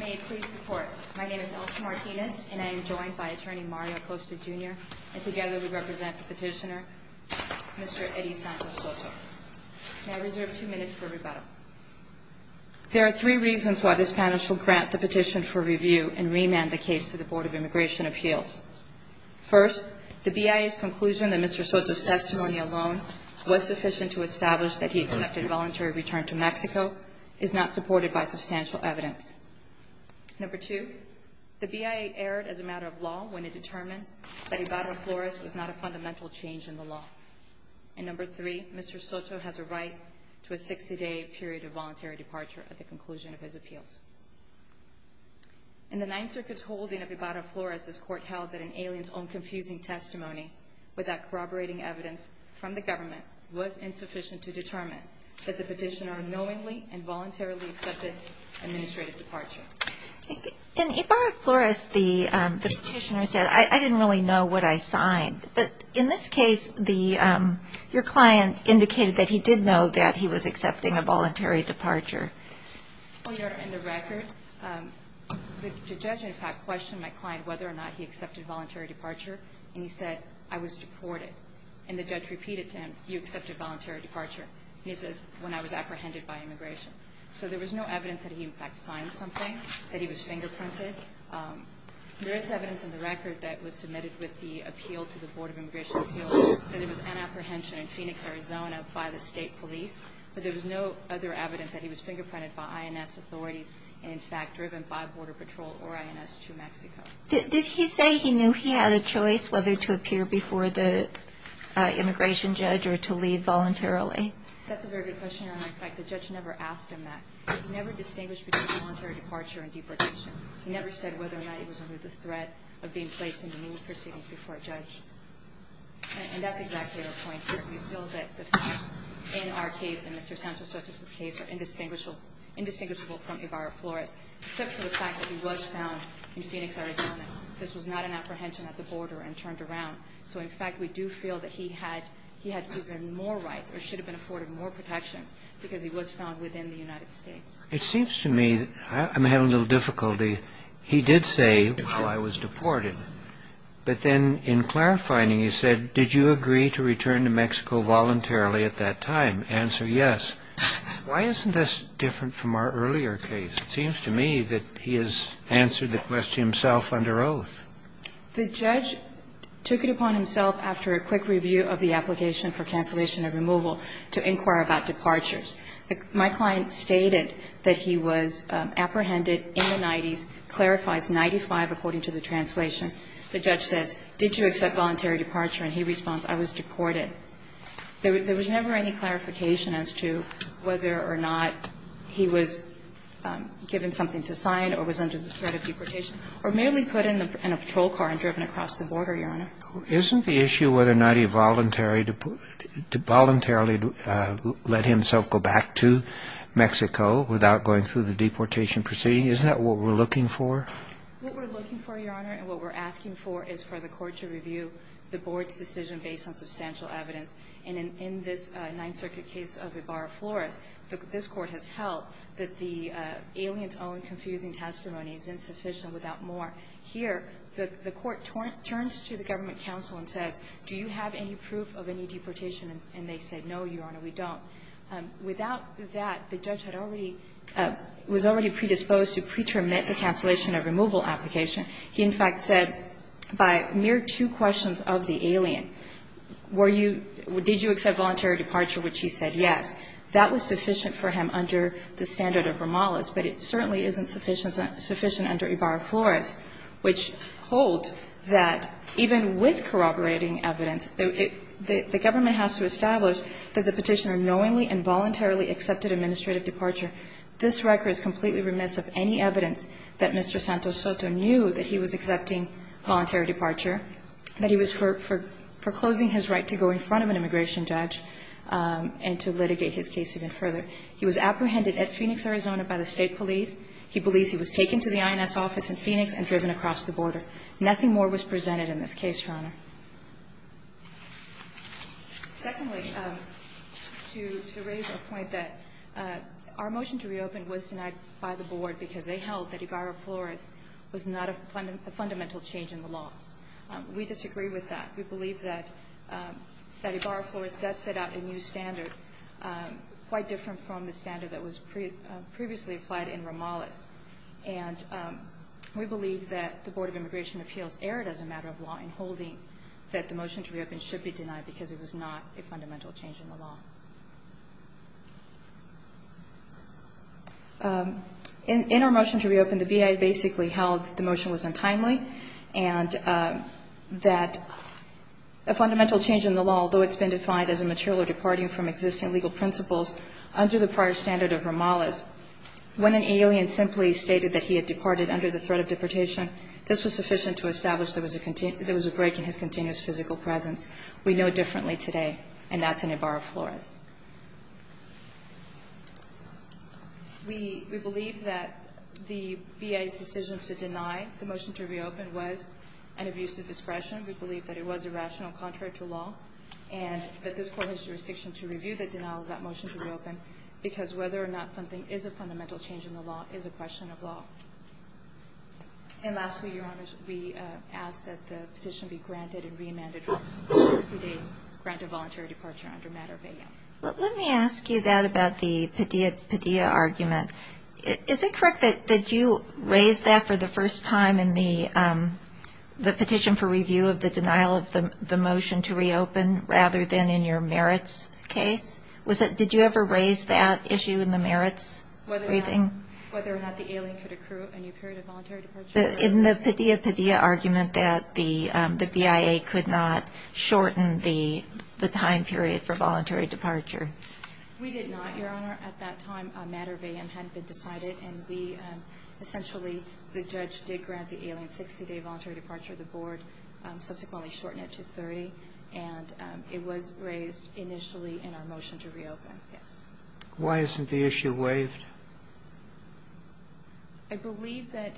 May it please the Court, my name is Elsa Martinez and I am joined by Attorney Mario Acosta Jr. and together we represent the petitioner, Mr. Eddie Santos Soto. May I reserve two minutes for rebuttal? There are three reasons why this panel shall grant the petition for review and remand the case to the Board of Immigration Appeals. First, the BIA's conclusion that Mr. Soto's testimony alone was sufficient to establish that he accepted voluntary return to Mexico is not supported by substantial evidence. Number two, the BIA erred as a matter of law when it determined that Ibarra-Flores was not a fundamental change in the law. And number three, Mr. Soto has a right to a 60-day period of voluntary departure at the conclusion of his appeals. In the Ninth Circuit's holding of Ibarra-Flores, this Court held that an alien's own confusing testimony without corroborating evidence from the government was insufficient to determine that the petitioner knowingly and voluntarily accepted administrative departure. In Ibarra-Flores, the petitioner said, I didn't really know what I signed. But in this case, your client indicated that he did know that he was accepting a voluntary departure. Your Honor, in the record, the judge, in fact, questioned my client whether or not he accepted voluntary departure and he said, I was deported. And the judge repeated to him, you accepted voluntary departure. And he says, when I was apprehended by immigration. So there was no evidence that he, in fact, signed something, that he was fingerprinted. There is evidence in the record that was submitted with the appeal to the Board of Immigration Appeals that it was an apprehension in Phoenix, Arizona, by the state police. But there was no other evidence that he was fingerprinted by INS authorities and, in fact, driven by Border Patrol or INS to Mexico. Did he say he knew he had a choice whether to appear before the immigration judge or to leave voluntarily? That's a very good question, Your Honor. In fact, the judge never asked him that. He never distinguished between voluntary departure and deportation. He never said whether or not he was under the threat of being placed into new proceedings before a judge. And that's exactly our point here. We feel that the facts in our case and Mr. Santos-Ortiz's case are indistinguishable from Ibarra-Flores, except for the fact that he was found in Phoenix, Arizona. This was not an apprehension at the border and turned around. So, in fact, we do feel that he had even more rights or should have been afforded more protections because he was found within the United States. It seems to me I'm having a little difficulty. He did say, well, I was deported. But then in clarifying, he said, did you agree to return to Mexico voluntarily at that time? Answer, yes. Why isn't this different from our earlier case? It seems to me that he has answered the question himself under oath. The judge took it upon himself after a quick review of the application for cancellation and removal to inquire about departures. My client stated that he was apprehended in the 90s, clarifies 95 according to the translation. The judge says, did you accept voluntary departure? And he responds, I was deported. There was never any clarification as to whether or not he was given something to sign or was under the threat of deportation or merely put in a patrol car and driven across the border, Your Honor. Isn't the issue whether or not he voluntarily let himself go back to Mexico without going through the deportation proceeding, is that what we're looking for? What we're looking for, Your Honor, and what we're asking for is for the court to review the board's decision based on substantial evidence. And in this Ninth Circuit case of Ibarra-Flores, this Court has held that the alien's own confusing testimony is insufficient without more. Here, the court turns to the government counsel and says, do you have any proof of any deportation? And they say, no, Your Honor, we don't. Without that, the judge had already, was already predisposed to pretermine the cancellation or removal application. He, in fact, said by mere two questions of the alien, were you, did you accept voluntary departure, which he said, yes. That was sufficient for him under the standard of Romales, but it certainly isn't sufficient under Ibarra-Flores, which holds that even with corroborating evidence, the government has to establish that the Petitioner knowingly and voluntarily accepted administrative departure. This record is completely remiss of any evidence that Mr. Santos Soto knew that he was accepting voluntary departure, that he was foreclosing his right to go in front of an immigration judge and to litigate his case even further. He was apprehended at Phoenix, Arizona, by the State police. He believes he was taken to the INS office in Phoenix and driven across the border. Nothing more was presented in this case, Your Honor. Secondly, to raise a point that our motion to reopen was denied by the Board because they held that Ibarra-Flores was not a fundamental change in the law. We disagree with that. We believe that Ibarra-Flores does set out a new standard quite different from the standard that was previously applied in Romales. And we believe that the Board of Immigration Appeals erred as a matter of law in that the motion to reopen should be denied because it was not a fundamental change in the law. In our motion to reopen, the BIA basically held the motion was untimely and that a fundamental change in the law, although it's been defined as a material departing from existing legal principles under the prior standard of Romales, when an alien simply stated that he had departed under the threat of deportation, this was sufficient to establish there was a break in his continuous physical presence. We know differently today, and that's in Ibarra-Flores. We believe that the BIA's decision to deny the motion to reopen was an abuse of discretion. We believe that it was irrational, contrary to law, and that this Court has jurisdiction to review the denial of that motion to reopen because whether or not something is a fundamental change in the law is a question of law. And lastly, Your Honors, we ask that the petition be granted and re-amended for a 60-day granted voluntary departure under matter of BIA. Let me ask you that about the Padilla argument. Is it correct that you raised that for the first time in the petition for review of the denial of the motion to reopen rather than in your merits case? Did you ever raise that issue in the merits briefing? Whether or not the alien could accrue a new period of voluntary departure? In the Padilla-Padilla argument that the BIA could not shorten the time period for voluntary departure. We did not, Your Honor. At that time, a matter of BIA hadn't been decided, and we essentially, the judge did grant the alien 60-day voluntary departure. The Board subsequently shortened it to 30, and it was raised initially in our motion to reopen, yes. Why isn't the issue waived? I believe that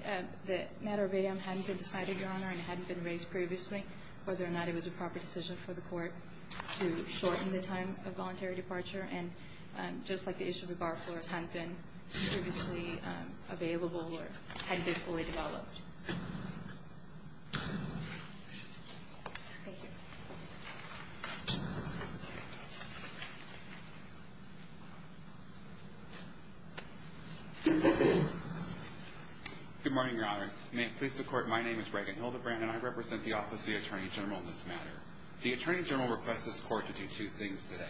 the matter of BIA hadn't been decided, Your Honor, and hadn't been raised previously, whether or not it was a proper decision for the Court to shorten the time of voluntary departure, and just like the issue of the bar floors hadn't been previously available or hadn't been fully developed. Thank you. Thank you. Good morning, Your Honors. May it please the Court, my name is Reagan Hildebrand, and I represent the Office of the Attorney General in this matter. The Attorney General requests this Court to do two things today.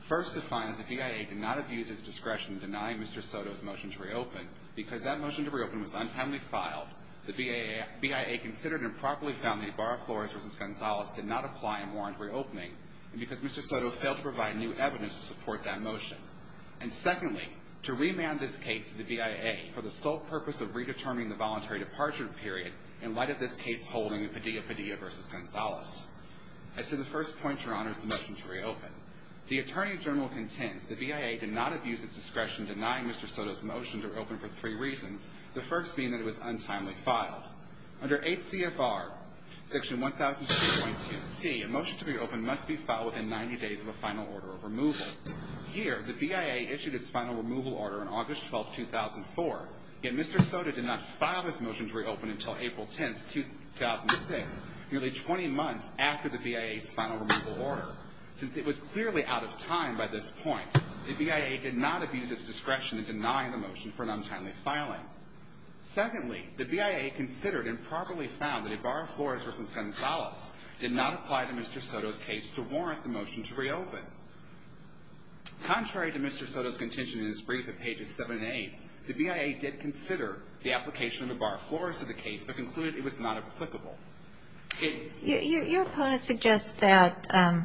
First, to find that the BIA did not abuse its discretion in denying Mr. Soto's motion to reopen because that motion to reopen was untimely filed. The BIA considered and properly found that the bar floors versus Gonzalez did not apply and warrant reopening because Mr. Soto failed to provide new evidence to support that motion. And secondly, to remand this case to the BIA for the sole purpose of redetermining the voluntary departure period in light of this case holding Padilla-Padilla versus Gonzalez. As to the first point, Your Honors, the motion to reopen, the Attorney General contends the BIA did not abuse its discretion denying Mr. Soto's motion to reopen because that motion to reopen was untimely filed. Under 8 CFR Section 1002.2C, a motion to reopen must be filed within 90 days of a final order of removal. Here, the BIA issued its final removal order on August 12, 2004, yet Mr. Soto did not file this motion to reopen until April 10, 2006, nearly 20 months after the BIA's final removal order. Since it was clearly out of time by this point, the BIA did not abuse its discretion in denying the motion for an untimely filing. Secondly, the BIA considered and properly found that Ibarra-Flores versus Gonzalez did not apply to Mr. Soto's case to warrant the motion to reopen. Contrary to Mr. Soto's contention in his brief at pages 7 and 8, the BIA did consider the application of Ibarra-Flores to the case, but concluded it was not applicable. It ---- Your opponent suggests that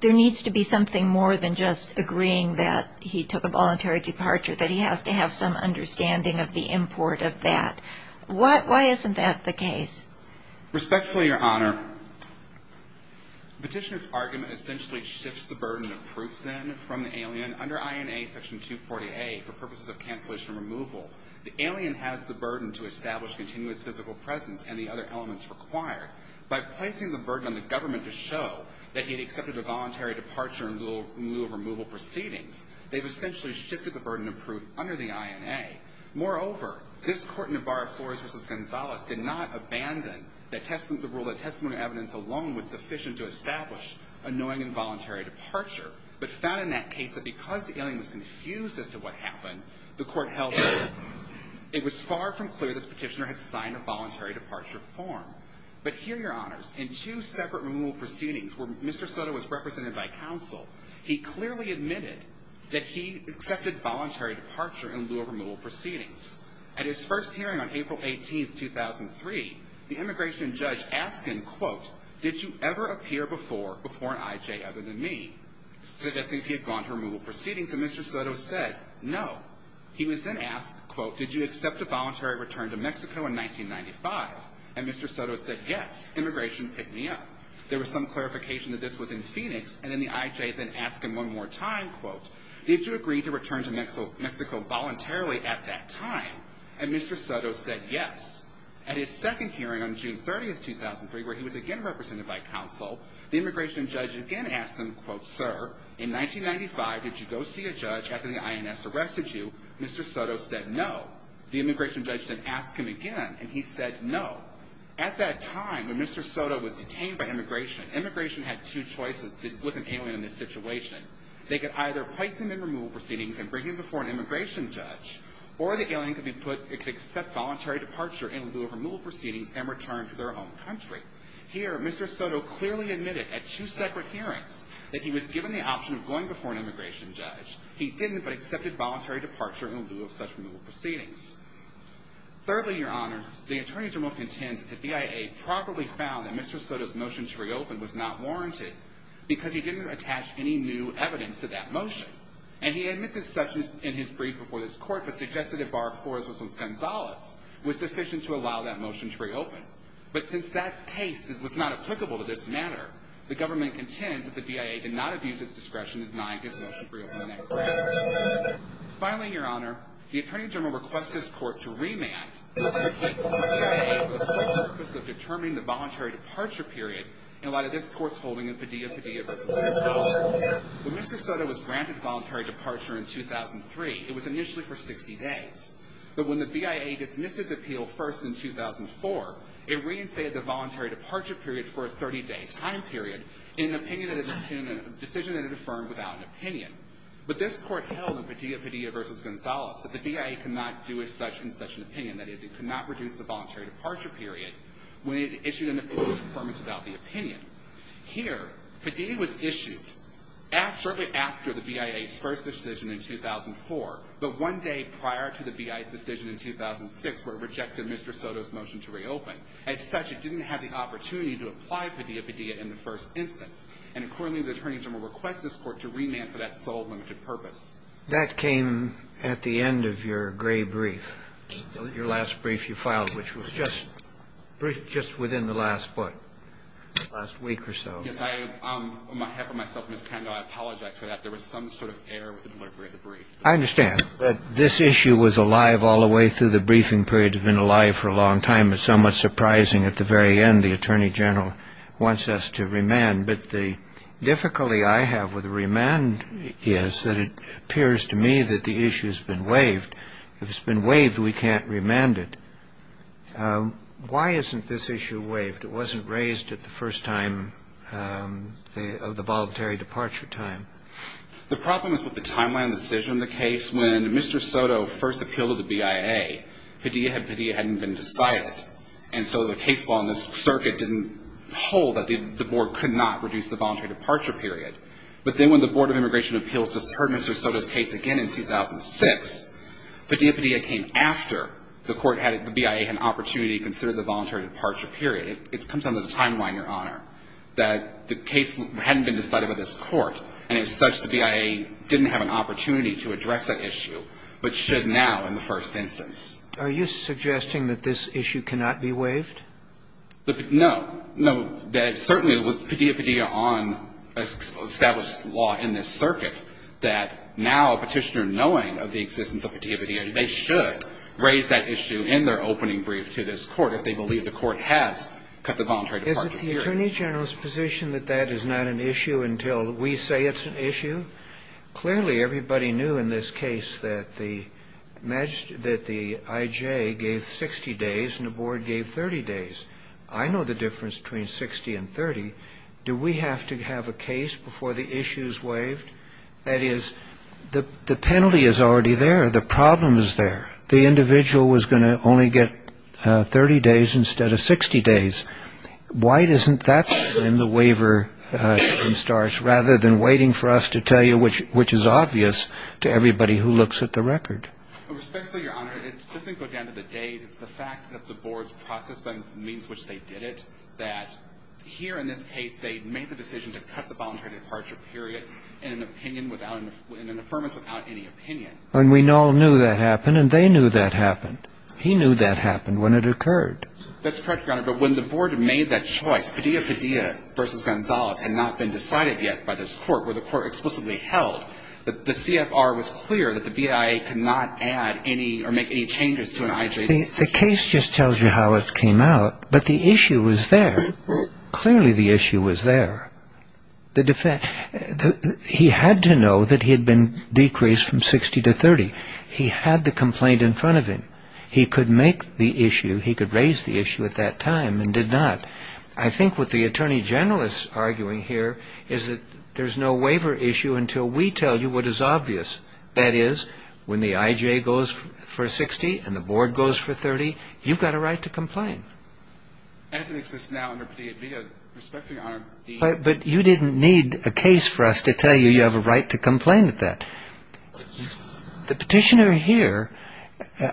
there needs to be something more than just agreeing that he took a voluntary departure, that he has to have some understanding of the import of that. Why isn't that the case? Respectfully, Your Honor, the Petitioner's argument essentially shifts the burden of proof, then, from the alien. Under INA Section 240A, for purposes of cancellation removal, the alien has the burden to establish continuous physical presence and the other elements required. However, in the case of Ibarra-Flores versus Gonzalez, the Petitioner's argument is that the alien was confused as to what happened. The court held that it was far from clear that the Petitioner had signed a voluntary departure form. But here, Your Honors, in two separate removal proceedings where Mr. Soto was represented he clearly admitted that he accepted voluntary departure in lieu of removal proceedings. At his first hearing on April 18, 2003, the immigration judge asked him, quote, did you ever appear before an IJ other than me? Suggesting he had gone to removal proceedings, and Mr. Soto said, no. He was then asked, quote, did you accept a voluntary return to Mexico in 1995? And Mr. Soto said, yes. Immigration picked me up. There was some clarification that this was in Phoenix, and then the IJ then asked him one more time, quote, did you agree to return to Mexico voluntarily at that time? And Mr. Soto said, yes. At his second hearing on June 30, 2003, where he was again represented by counsel, the immigration judge again asked him, quote, sir, in 1995, did you go see a judge after the INS arrested you? Mr. Soto said, no. The immigration judge then asked him again, and he said, no. At that time, when Mr. Soto was detained by immigration, immigration had two choices with an alien in this situation. They could either place him in removal proceedings and bring him before an immigration judge, or the alien could accept voluntary departure in lieu of removal proceedings and return to their own country. Here, Mr. Soto clearly admitted at two separate hearings that he was given the option of going before an immigration judge. He didn't, but accepted voluntary departure in lieu of such removal proceedings. Thirdly, your honors, the attorney general contends that the BIA properly found that Mr. Soto's motion to reopen was not warranted because he didn't attach any new evidence to that motion. And he admits his substance in his brief before this court, but suggested a bar of Flores-Wilson-Gonzalez was sufficient to allow that motion to reopen. But since that case was not applicable to this matter, the government contends that the BIA did not abuse its discretion in denying his motion to reopen. Finally, your honor, the attorney general requests this court to remand the case of the BIA for the sole purpose of determining the voluntary departure period in light of this court's holding of Padilla vs. Gonzalez. When Mr. Soto was granted voluntary departure in 2003, it was initially for 60 days. But when the BIA dismissed his appeal first in 2004, it reinstated the voluntary departure period for a 30-day time period in a decision that it affirmed without an opinion. But this court held in Padilla vs. Gonzalez that the BIA could not do as such in such an opinion. That is, it could not reduce the voluntary departure period when it issued an appeal of affirmation without the opinion. Here, Padilla was issued shortly after the BIA's first decision in 2004, but one day prior to the BIA's decision in 2006 where it rejected Mr. Soto's motion to reopen. As such, it didn't have the opportunity to apply Padilla vs. Gonzalez in the first instance. And accordingly, the attorney general requests this court to remand for that sole limited purpose. That came at the end of your gray brief, your last brief you filed, which was just within the last week or so. Yes. On behalf of myself and Ms. Kendall, I apologize for that. There was some sort of error with the delivery of the brief. I understand. But this issue was alive all the way through the briefing period. It had been alive for a long time. It's somewhat surprising at the very end the attorney general wants us to remand. But the difficulty I have with remand is that it appears to me that the issue has been waived. If it's been waived, we can't remand it. Why isn't this issue waived? It wasn't raised at the first time of the voluntary departure time. The problem is with the timeline of the decision of the case. When Mr. Soto first appealed to the BIA, Padilla hadn't been decided. And so the case law in this circuit didn't hold that the board could not reduce the voluntary departure period. But then when the Board of Immigration Appeals heard Mr. Soto's case again in 2006, Padilla came after the BIA had an opportunity to consider the voluntary departure period. It comes down to the timeline, Your Honor, that the case hadn't been decided by this court. And as such, the BIA didn't have an opportunity to address that issue, but should now in the first instance. Are you suggesting that this issue cannot be waived? No. No. Certainly with Padilla-Padilla on established law in this circuit, that now a Petitioner knowing of the existence of Padilla-Padilla, they should raise that issue in their opening brief to this Court if they believe the Court has cut the voluntary departure period. Is it the Attorney General's position that that is not an issue until we say it's an issue? Clearly everybody knew in this case that the I.J. gave 60 days and the Board gave 30 days. I know the difference between 60 and 30. Do we have to have a case before the issue is waived? That is, the penalty is already there. The problem is there. The individual was going to only get 30 days instead of 60 days. Why isn't that when the waiver starts, rather than waiting for us to tell you, which is obvious to everybody who looks at the record? Respectfully, Your Honor, it doesn't go down to the days. It's the fact that the Board's process by means of which they did it, that here in this case they made the decision to cut the voluntary departure period in an affirmance without any opinion. And we all knew that happened, and they knew that happened. He knew that happened when it occurred. That's correct, Your Honor. But when the Board made that choice, Padilla-Padilla v. Gonzales had not been decided yet by this Court, where the Court explicitly held that the CFR was clear that the BIA could not add any or make any changes to an IJC decision. The case just tells you how it came out, but the issue was there. Clearly the issue was there. He had to know that he had been decreased from 60 to 30. He had the complaint in front of him. He could make the issue, he could raise the issue at that time and did not. I think what the Attorney General is arguing here is that there's no waiver issue until we tell you what is obvious. That is, when the IJ goes for 60 and the Board goes for 30, you've got a right to complain. As it exists now under Petitioner v. Padilla, respectfully, Your Honor. But you didn't need a case for us to tell you you have a right to complain at that. The Petitioner here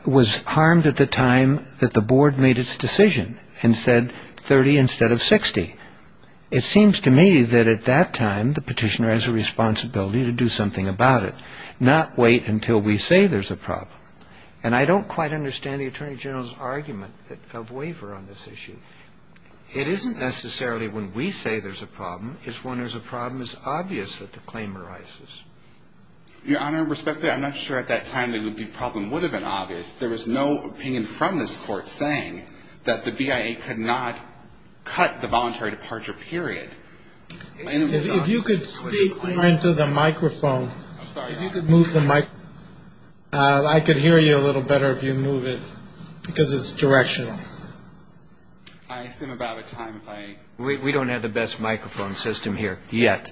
was harmed at the time that the Board made its decision and said 30 instead of 60. It seems to me that at that time the Petitioner has a responsibility to do something about it, not wait until we say there's a problem. And I don't quite understand the Attorney General's argument of waiver on this issue. It isn't necessarily when we say there's a problem, it's when there's a problem it's obvious that the claim arises. Your Honor, respectfully, I'm not sure at that time the problem would have been obvious. There was no opinion from this Court saying that the BIA could not cut the voluntary departure period. If you could speak into the microphone. I'm sorry, Your Honor. If you could move the microphone. I could hear you a little better if you move it because it's directional. I assume about a time if I. We don't have the best microphone system here yet.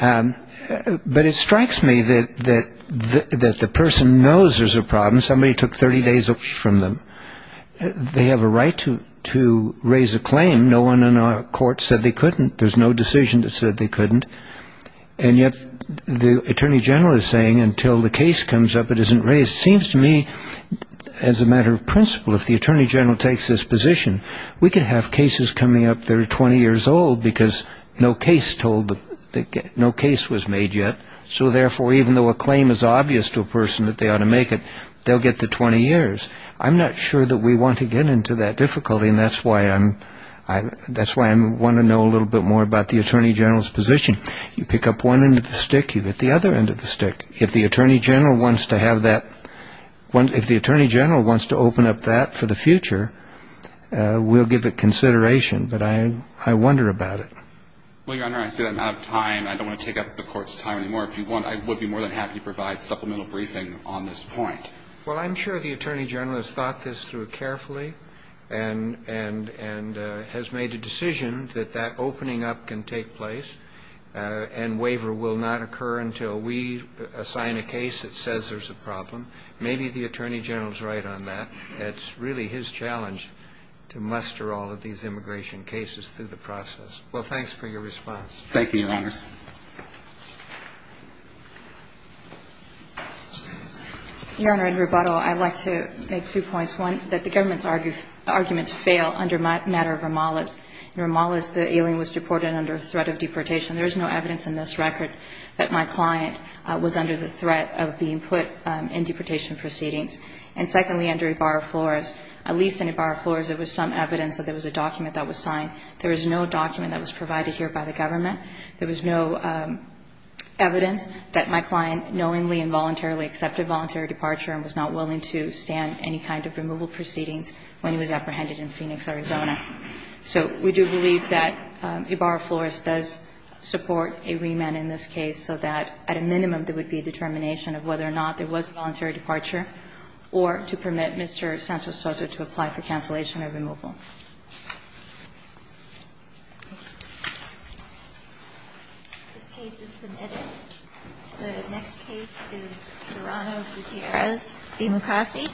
But it strikes me that the person knows there's a problem. Somebody took 30 days off from them. They have a right to raise a claim. No one in our Court said they couldn't. There's no decision that said they couldn't. And yet the Attorney General is saying until the case comes up it isn't raised. It seems to me as a matter of principle if the Attorney General takes this because no case was made yet. So, therefore, even though a claim is obvious to a person that they ought to make it, they'll get the 20 years. I'm not sure that we want to get into that difficulty. And that's why I want to know a little bit more about the Attorney General's position. You pick up one end of the stick, you get the other end of the stick. If the Attorney General wants to open up that for the future, we'll give it consideration. But I wonder about it. Well, Your Honor, I say that out of time. I don't want to take up the Court's time anymore. I would be more than happy to provide supplemental briefing on this point. Well, I'm sure the Attorney General has thought this through carefully and has made a decision that that opening up can take place and waiver will not occur until we assign a case that says there's a problem. Maybe the Attorney General is right on that. It's really his challenge to muster all of these immigration cases through the process. Well, thanks for your response. Thank you, Your Honor. Your Honor, in rebuttal, I'd like to make two points. One, that the government's arguments fail under matter of Romales. In Romales, the alien was deported under threat of deportation. There is no evidence in this record that my client was under the threat of being put in deportation proceedings. And secondly, under Ibarra-Flores, at least in Ibarra-Flores, there was some evidence that there was a document that was signed. There was no document that was provided here by the government. There was no evidence that my client knowingly and voluntarily accepted voluntary departure and was not willing to stand any kind of removal proceedings when he was apprehended in Phoenix, Arizona. So we do believe that Ibarra-Flores does support a remand in this case so that at a Mr. Santos-Soto to apply for cancellation of removal. This case is submitted. The next case is Serrano-Gutierrez v. Mukasey.